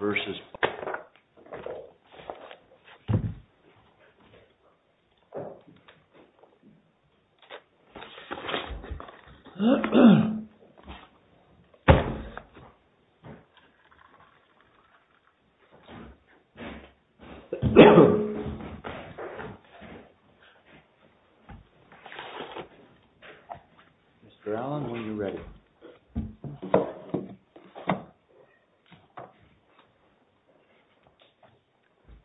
vs. BIOSAFE Mr. Allen, when you're ready.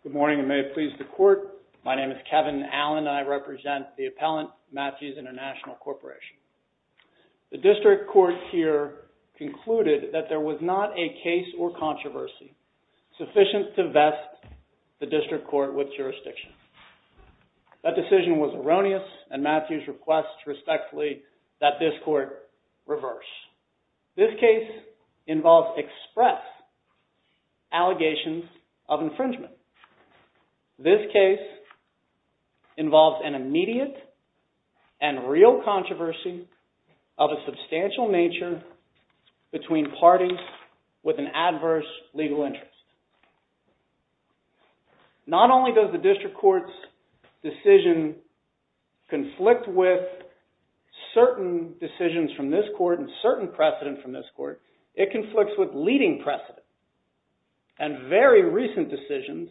Good morning and may it please the court, my name is Kevin Allen and I represent the appellant, Matthews International Corporation. The district court here concluded that there was not a case or controversy sufficient to vest the district court with jurisdiction. That decision was erroneous and Matthews requests respectfully that this court reverse. This case involves express allegations of infringement. This case involves an immediate and real controversy of a substantial nature between parties with an adverse legal interest. Not only does the district court's decision conflict with certain decisions from this court, it conflicts with leading precedent and very recent decisions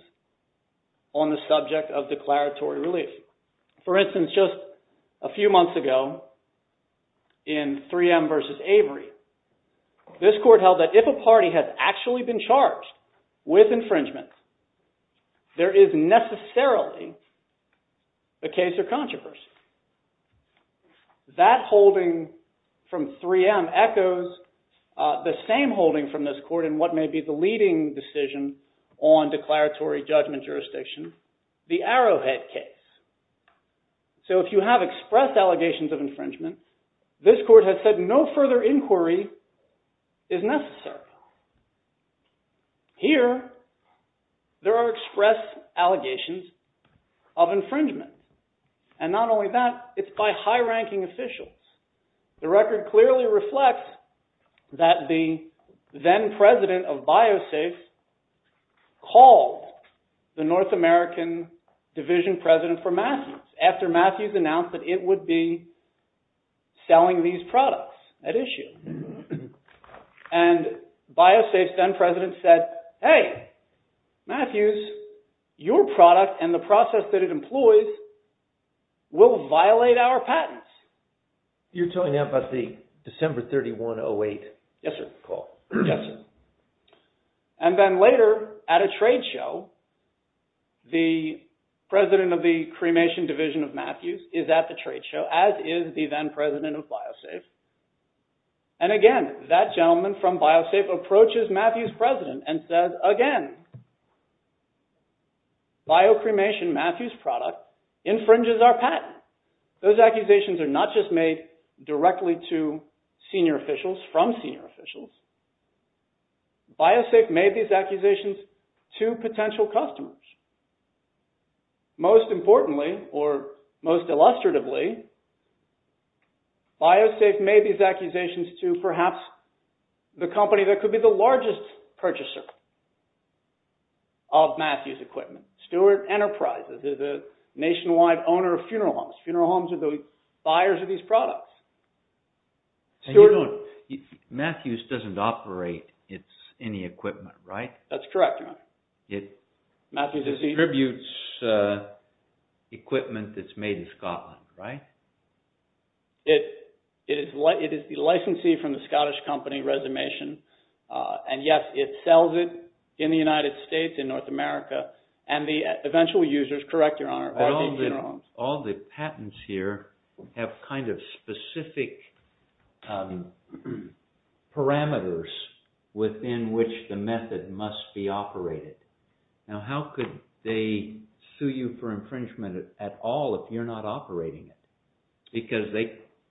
on the subject of declaratory relief. For instance, just a few months ago in 3M vs. Avery, this court held that if a party had actually been charged with infringement, there is necessarily a case or controversy. That holding from 3M echoes the same holding from this court in what may be the leading decision on declaratory judgment jurisdiction, the Arrowhead case. So if you have express allegations of infringement, this court has said no further inquiry is necessary. Here, there are express allegations of infringement and not only that, it's by high-ranking officials. The record clearly reflects that the then president of BioSafe called the North American division president for Matthews after Matthews announced that it would be selling these products at issue. And BioSafe's then president said, hey, Matthews, your product and the process that it employs will violate our patents. You're talking about the December 31, 08 call? Yes, sir. And then later at a trade show, the president of the cremation division of Matthews is at a trade show as is the then president of BioSafe. And again, that gentleman from BioSafe approaches Matthews' president and says, again, BioCremation, Matthews' product infringes our patent. Those accusations are not just made directly to senior officials from senior officials. BioSafe made these accusations to potential customers. Most importantly or most illustratively, BioSafe made these accusations to perhaps the company that could be the largest purchaser of Matthews' equipment, Stewart Enterprises, is a nationwide owner of funeral homes. Funeral homes are the buyers of these products. Matthews doesn't operate any equipment, right? That's correct, Your Honor. It distributes equipment that's made in Scotland, right? It is the licensee from the Scottish company Resumation, and yes, it sells it in the United States, in North America, and the eventual users, correct, Your Honor, are these funeral homes. All the patents here have kind of specific parameters within which the method must be operated. Now, how could they sue you for infringement at all if you're not operating it? Because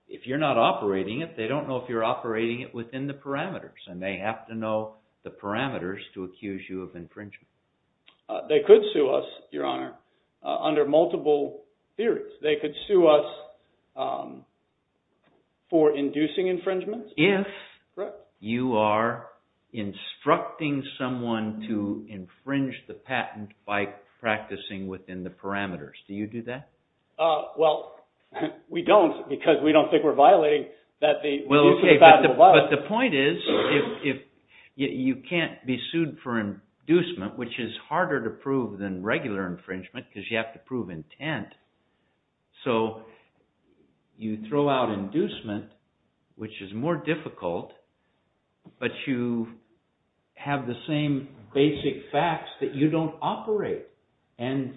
if you're not operating it, they don't know if you're operating it within the parameters, and they have to know the parameters to accuse you of infringement. They could sue us, Your Honor, under multiple theories. They could sue us for inducing infringement. If you are instructing someone to infringe the patent by practicing within the parameters, do you do that? Well, we don't because we don't think we're violating that the patent will violate it. But the point is, you can't be sued for inducement, which is harder to prove than regular infringement because you have to prove intent. So you throw out inducement, which is more difficult, but you have the same basic facts that you don't operate, and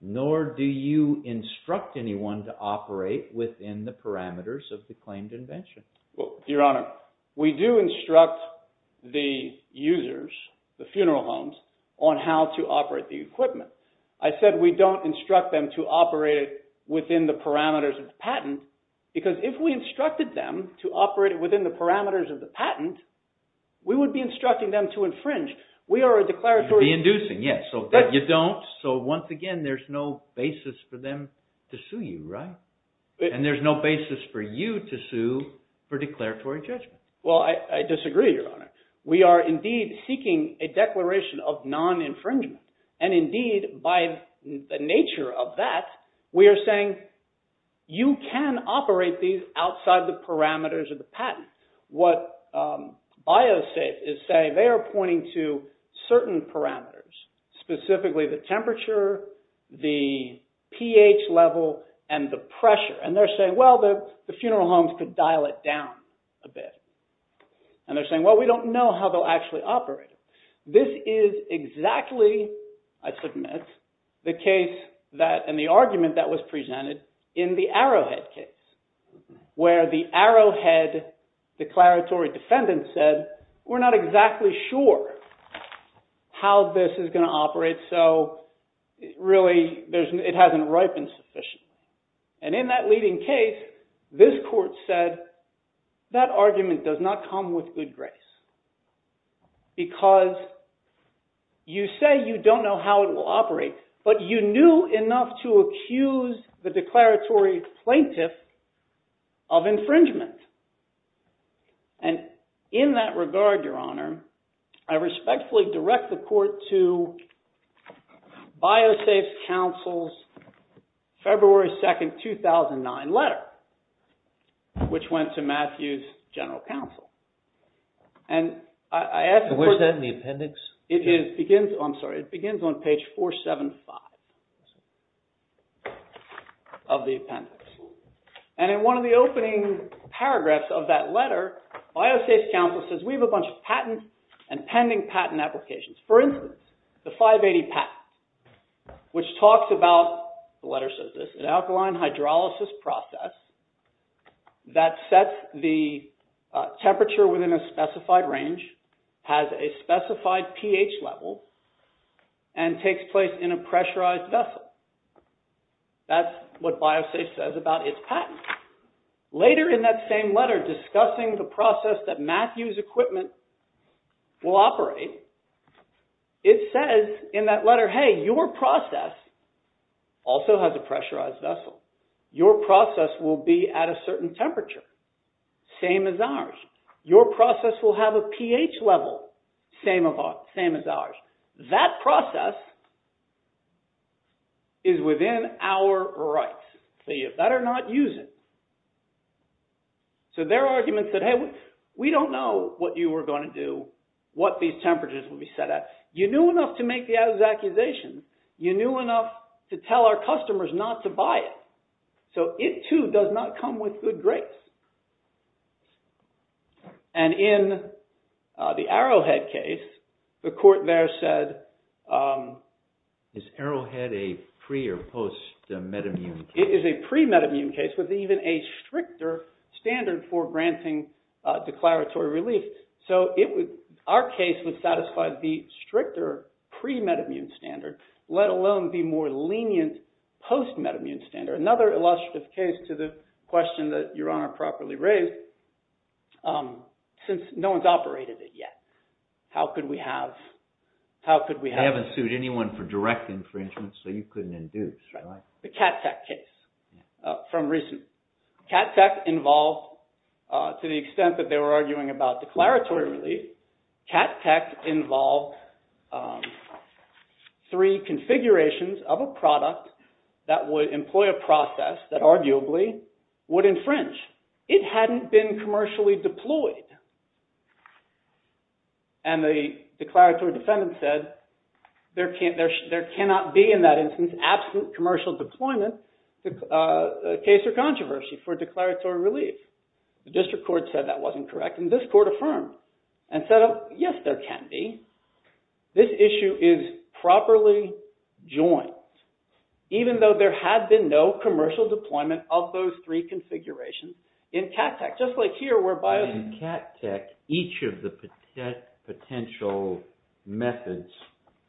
nor do you instruct anyone to operate within the parameters of the claimed invention. Well, Your Honor, we do instruct the users, the funeral homes, on how to operate the equipment. I said we don't instruct them to operate it within the parameters of the patent because if we instructed them to operate it within the parameters of the patent, we would be instructing them to infringe. We are a declaratory... To be inducing, yes, so that you don't. So once again, there's no basis for them to sue you, right? And there's no basis for you to sue for declaratory judgment. Well, I disagree, Your Honor. We are indeed seeking a declaration of non-infringement. And indeed, by the nature of that, we are saying you can operate these outside the parameters of the patent. What BioSafe is saying, they are pointing to certain parameters, specifically the temperature, the pH level, and the pressure. And they're saying, well, the funeral homes could dial it down a bit. And they're saying, well, we don't know how they'll actually operate. This is exactly, I submit, the case that, and the argument that was presented in the Arrowhead case, where the Arrowhead declaratory defendant said, we're not exactly sure how this is going to operate, so really, it hasn't ripened sufficiently. And in that leading case, this court said, that argument does not come with good grace. Because you say you don't know how it will operate, but you knew enough to accuse the declaratory plaintiff of infringement. And in that regard, Your Honor, I respectfully direct the court to BioSafe's counsel's February 2nd, 2009 letter, which went to Matthew's general counsel. And I ask the court- Where's that in the appendix? It begins, I'm sorry, it begins on page 475 of the appendix. And in one of the opening paragraphs of that letter, BioSafe's counsel says, we have a bunch of patent and pending patent applications. For instance, the 580 patent, which talks about, the letter says this, an alkaline hydrolysis process that sets the temperature within a specified range, has a specified pH level, and takes place in a pressurized vessel. That's what BioSafe says about its patent. Later in that same letter, discussing the process that Matthew's equipment will operate, it says in that letter, hey, your process also has a pressurized vessel. Your process will be at a certain temperature, same as ours. Your process will have a pH level, same as ours. That process is within our rights. So you better not use it. So their argument said, hey, we don't know what you are going to do, what these temperatures will be set at. You knew enough to make the accusation. You knew enough to tell our customers not to buy it. So it, too, does not come with good grace. And in the Arrowhead case, the court there said- Is Arrowhead a pre- or post-metamune case? It is a pre-metamune case, with even a stricter standard for granting declaratory relief. So our case would satisfy the stricter pre-metamune standard, let alone the more lenient post-metamune standard. Another illustrative case to the question that Your Honor properly raised, since no one's operated it yet. How could we have- They haven't sued anyone for direct infringement, so you couldn't induce, right? The Cat Tech case, from recent- Cat Tech involved, to the extent that they were arguing about declaratory relief, Cat Tech involved three configurations of a product that would employ a process that arguably would infringe. It hadn't been commercially deployed. And the declaratory defendant said, there cannot be, in that instance, absent commercial deployment, case or controversy, for declaratory relief. The district court said that wasn't correct, and this court affirmed, and said, yes, there can be. This issue is properly joined, even though there had been no commercial deployment of those three configurations in Cat Tech. Just like here, whereby- In Cat Tech, each of the potential methods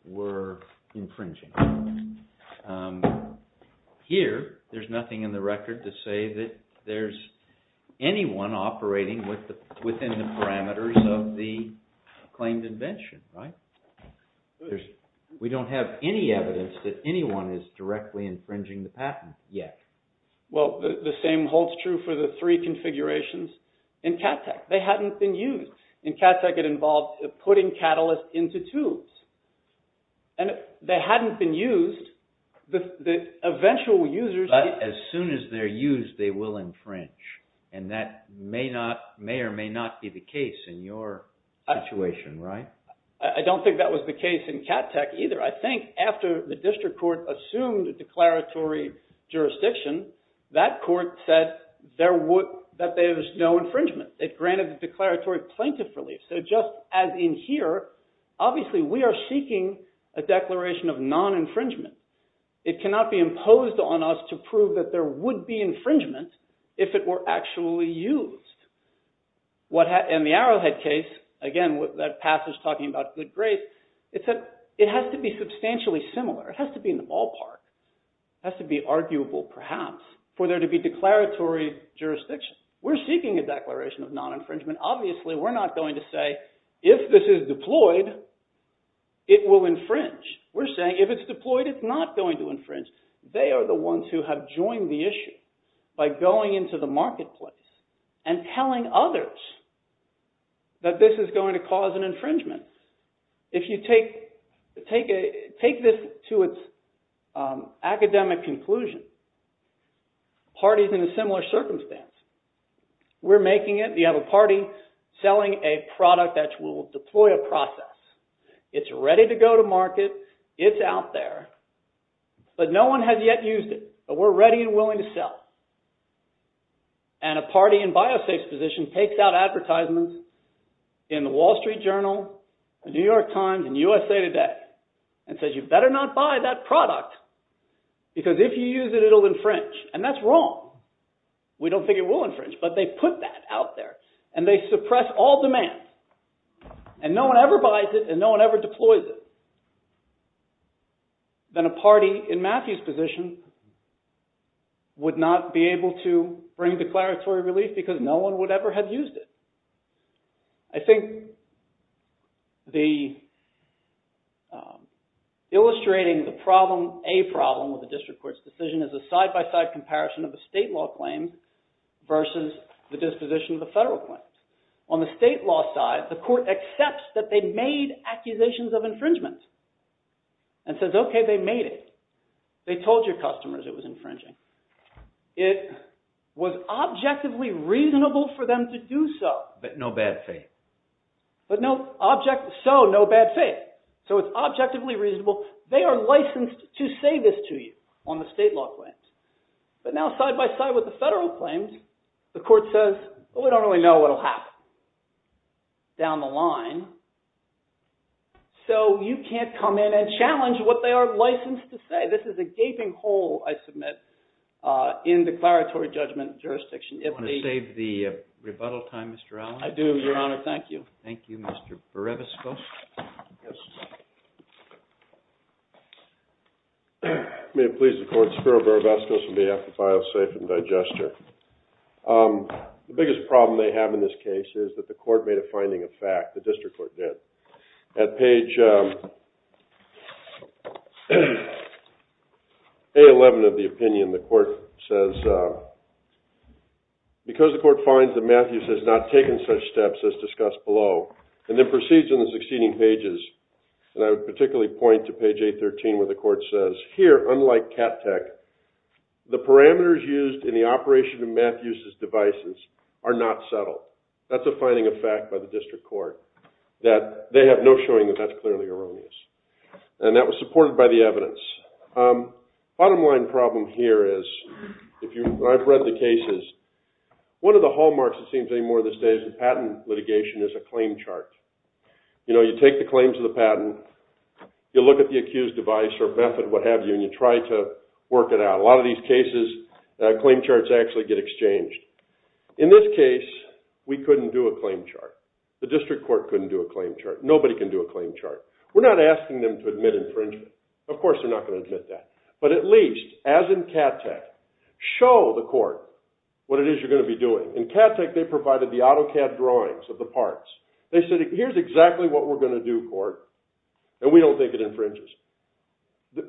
were infringing. Here, there's nothing in the record to say that there's anyone operating within the parameters of the claimed invention, right? We don't have any evidence that anyone is directly infringing the patent, yet. Well, the same holds true for the three configurations in Cat Tech. They hadn't been used. In Cat Tech, it involved putting catalysts into tools. And if they hadn't been used, the eventual users- But as soon as they're used, they will infringe. And that may or may not be the case in your situation, right? I don't think that was the case in Cat Tech, either. I think after the district court assumed a declaratory jurisdiction, that court said that there's no infringement. It granted the declaratory plaintiff relief. So just as in here, obviously, we are seeking a declaration of non-infringement. It cannot be imposed on us to prove that there would be infringement if it were actually used. In the Arrowhead case, again, that passage talking about good grace, it said it has to be substantially similar. It has to be in the ballpark. It has to be arguable, perhaps, for there to be declaratory jurisdiction. We're seeking a declaration of non-infringement. Obviously, we're not going to say, if this is deployed, it will infringe. We're saying, if it's deployed, it's not going to infringe. They are the ones who have joined the issue by going into the marketplace and telling others that this is going to cause an infringement. If you take this to its academic conclusion, parties in a similar circumstance, we're making it, you have a party selling a product that will deploy a process. It's ready to go to market. It's deployed. It's out there. But no one has yet used it, but we're ready and willing to sell. A party in BioSafe's position takes out advertisements in the Wall Street Journal, the New York Times, and USA Today and says, you better not buy that product because if you use it, it'll infringe. That's wrong. We don't think it will infringe, but they put that out there. They suppress all demand. And no one ever buys it and no one ever deploys it. Then a party in Matthew's position would not be able to bring declaratory relief because no one would ever have used it. I think the illustrating the problem, a problem, with the district court's decision is a side-by-side comparison of the state law claims versus the disposition of the federal claims. On the state law side, the court accepts that they made accusations of infringement and says, okay, they made it. They told your customers it was infringing. It was objectively reasonable for them to do so. But no bad faith. So, no bad faith. So, it's objectively reasonable. They are licensed to say this to you on the state law claims. But now, side-by-side with the federal claims, the court says, we don't really know what will happen down the line. So, you can't come in and challenge what they are licensed to say. This is a gaping hole, I submit, in declaratory judgment jurisdiction. I want to save the rebuttal time, Mr. Allen. I do, Your Honor. Thank you. Thank you, Mr. Barabasco. Yes. May it please the court, Spiro Barabasco, on behalf of BioSafe and Digester. The biggest problem they have in this case is that the court made a finding of fact. The district court did. At page A11 of the opinion, the court says, because the court finds that Matthews has not taken such steps as discussed below, and then proceeds in the succeeding pages, and I would particularly point to page A13 where the court says, here, unlike CATTEC, the parameters used in the operation of Matthews' devices are not settled. That's a finding of fact by the district court, that they have no showing that that's clearly erroneous. And that was supported by the evidence. Bottom line problem here is, when I've read the cases, one of the hallmarks, it seems more to this day, is that patent litigation is a claim chart. You know, you take the claims of the patent, you look at the accused device or method, what have you, and you try to work it out. A lot of these cases, claim charts actually get exchanged. In this case, we couldn't do a claim chart. The district court couldn't do a claim chart. Nobody can do a claim chart. We're not asking them to admit infringement. Of course, they're not going to admit that. But at least, as in CATTEC, show the court what it is you're going to be doing. In CATTEC, they provided the AutoCAD drawings of the parts. They said, here's exactly what we're going to do, court. And we don't think it infringes.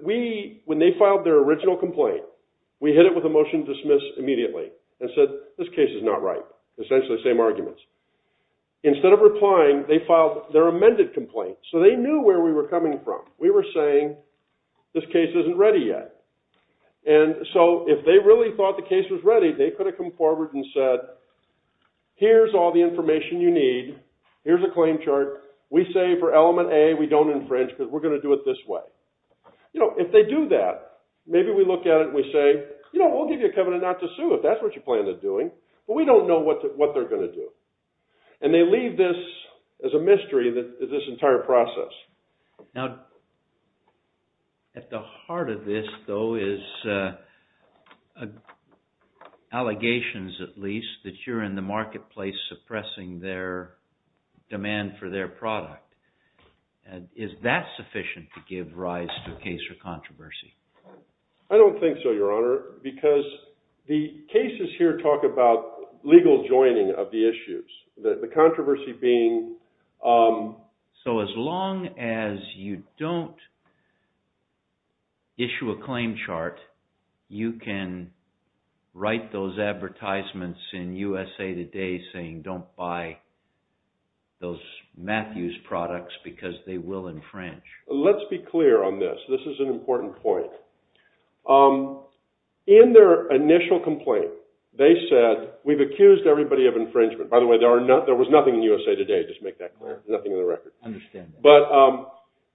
When they filed their original complaint, we hit it with a motion to dismiss immediately and said, this case is not right. Essentially, same arguments. Instead of replying, they filed their amended complaint. So they knew where we were coming from. We were saying, this case isn't ready yet. And so if they really thought the case was ready, they could have come forward and said, here's all the information you need. Here's a claim chart. We say for element A, we don't infringe because we're going to do it this way. If they do that, maybe we look at it and we say, we'll give you a covenant not to sue if that's what you plan on doing. But we don't know what they're going to do. And they leave this as a mystery, this entire process. Now, at the heart of this, though, is allegations, at least, that you're in the marketplace suppressing their demand for their product. Is that sufficient to give rise to a case for controversy? I don't think so, Your Honor, because the cases here talk about legal joining of the issues. The controversy being... So as long as you don't issue a claim chart, you can write those advertisements in USA Today saying don't buy those Matthews products because they will infringe. Let's be clear on this. This is an important point. In their initial complaint, they said, we've accused everybody of infringement. By the way, there was nothing in USA Today. Just make that clear. Nothing in the record. But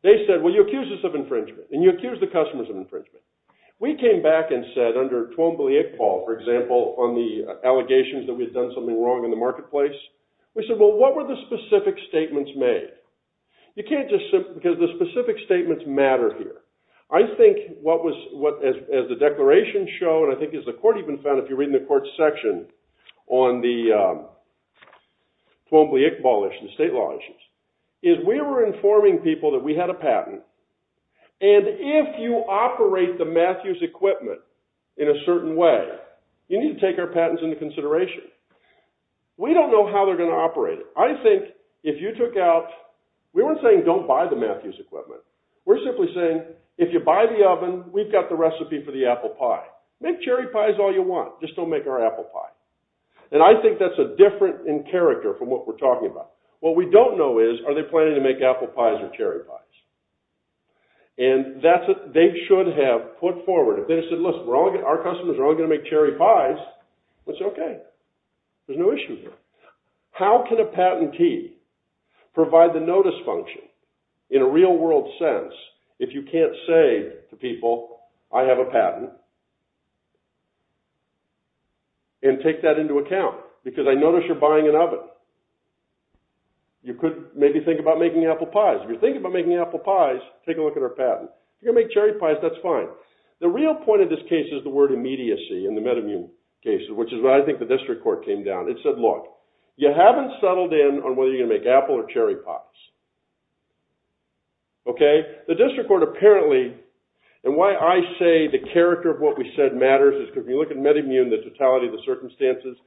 they said, well, you accused us of infringement. And you accused the customers of infringement. We came back and said, under Twombly-Iqbal, for example, on the allegations that we had done something wrong in the marketplace, we said, well, what were the specific statements made? You can't just... Because the specific statements matter here. I think what was... And I think the court even found, if you read in the court's section on the Twombly-Iqbal and state law issues, is we were informing people that we had a patent. And if you operate the Matthews equipment in a certain way, you need to take our patents into consideration. We don't know how they're going to operate it. I think if you took out... We weren't saying don't buy the Matthews equipment. We're simply saying, if you buy the oven, we've got the recipe for the apple pie. Make cherry pies all you want. Just don't make our apple pie. And I think that's a difference in character from what we're talking about. What we don't know is, are they planning to make apple pies or cherry pies? And that's what they should have put forward. If they said, listen, our customers are only going to make cherry pies, it's okay. There's no issue here. How can a patentee provide the notice function in a real-world sense if you can't say to them, and take that into account? Because I notice you're buying an oven. You could maybe think about making apple pies. If you're thinking about making apple pies, take a look at our patent. If you're going to make cherry pies, that's fine. The real point of this case is the word immediacy in the metamune cases, which is what I think the district court came down. It said, look, you haven't settled in on whether you're going to make apple or cherry pies. Okay? The district court apparently, and why I say the character of what we said matters is because if you look at metamune, the totality of the circumstances,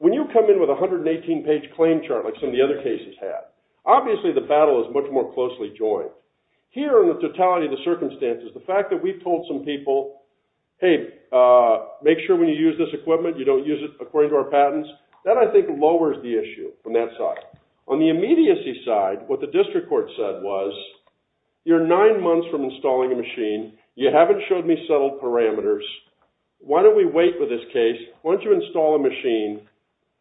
when you come in with a 118-page claim chart like some of the other cases have, obviously the battle is much more closely joined. Here in the totality of the circumstances, the fact that we've told some people, hey, make sure when you use this equipment you don't use it according to our patents, that I think lowers the issue from that side. On the immediacy side, what the district court said was, you're nine months from installing a machine. You haven't showed me settled parameters. Why don't we wait for this case? Why don't you install a machine?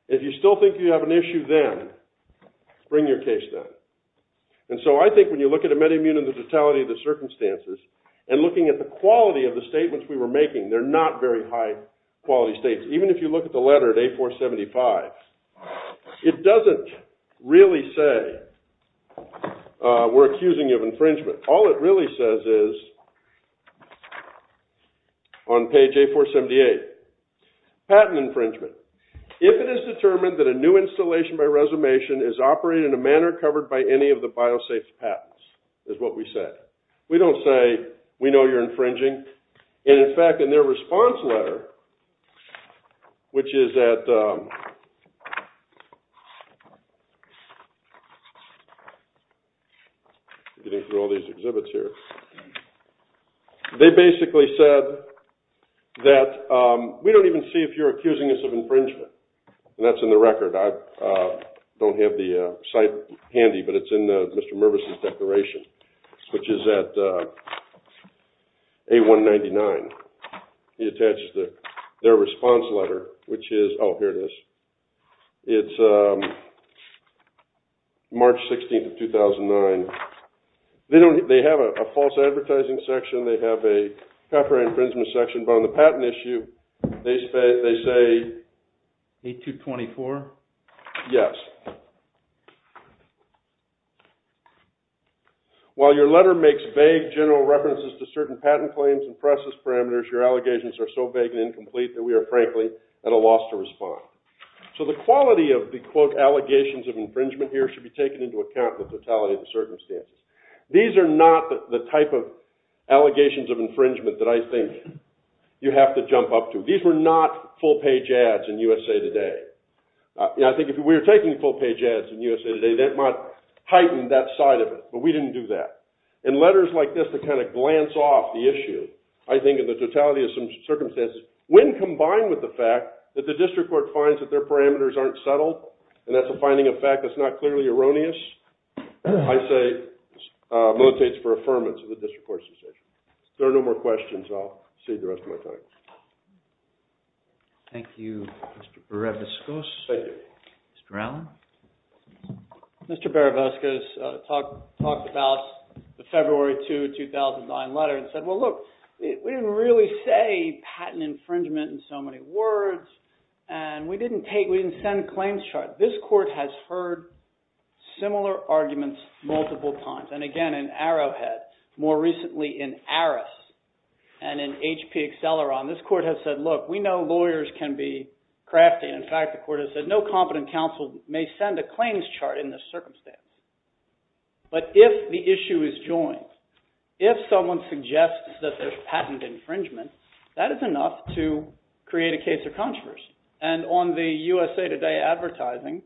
If you still think you have an issue then, bring your case down. And so I think when you look at a metamune and the totality of the circumstances, and looking at the quality of the statements we were making, they're not very high quality states. Even if you look at the letter at A-475, it doesn't really say we're accusing you of infringement. All it really says is, on page A-478, patent infringement. If it is determined that a new installation by resumation is operated in a manner covered by any of the biosafes patents, is what we say. We don't say, we know you're infringing. And in fact, in their response letter, which is at... I'm getting through all these exhibits here. They basically said that, we don't even see if you're accusing us of infringement. And that's in the record. I don't have the site handy, but it's in Mr. Mervis' declaration. Which is at A-199. He attached their response letter, which is... Oh, here it is. It's March 16th of 2009. They have a false advertising section, they have a copyright infringement section, but on the patent issue, they say... A-224? Yes. While your letter makes vague general references to certain patent claims and process parameters, your allegations are so vague and incomplete that we are, frankly, at a loss to respond. So the quality of the allegations of infringement here should be taken into account with the totality of the circumstances. These are not the type of allegations of infringement that I think you have to jump up to. These were not full-page ads in USA Today. I think if we were taking full-page ads in USA Today, that might heighten that side of it. But we didn't do that. In letters like this that kind of glance off the issue, I think of the totality of some circumstances, when combined with the fact that the district court finds that their parameters aren't settled, and that's a finding of fact that's not clearly erroneous, I say... Motivates for affirmance of the district court's decision. If there are no more questions, I'll save the rest of my time. Thank you, Mr. Barabascos. Thank you. Mr. Allen? Mr. Barabascos talked about the February 2, 2009 letter and said, well, look, we didn't really say patent infringement in so many words, and we didn't send a claims chart. This court has heard similar arguments multiple times. And again, in Arrowhead, more recently in Aris, and in HP Acceleron, this court has said, look, we know lawyers can be crafty. In fact, the court has said, no competent counsel may send a claims chart in this circumstance. But if the issue is joined, if someone suggests that there's patent infringement, that is enough to create a case of controversy. And on the USA Today advertising,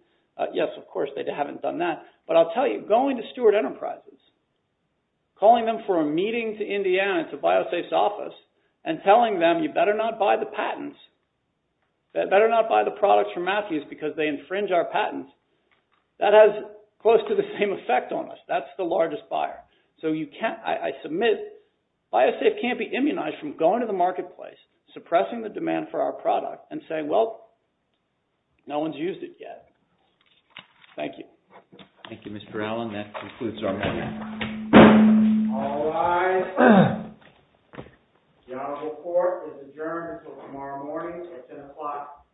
yes, of course, they haven't done that. But I'll tell you, going to Stewart Enterprises, calling them for a meeting to Indiana, to because they infringe our patents, that has close to the same effect on us. That's the largest buyer. So you can't, I submit, BioSafe can't be immunized from going to the marketplace, suppressing the demand for our product, and saying, well, no one's used it yet. Thank you. Thank you, Mr. Allen. That concludes our meeting. All rise. The honorable court is adjourned until tomorrow morning. It's 10 o'clock a.m.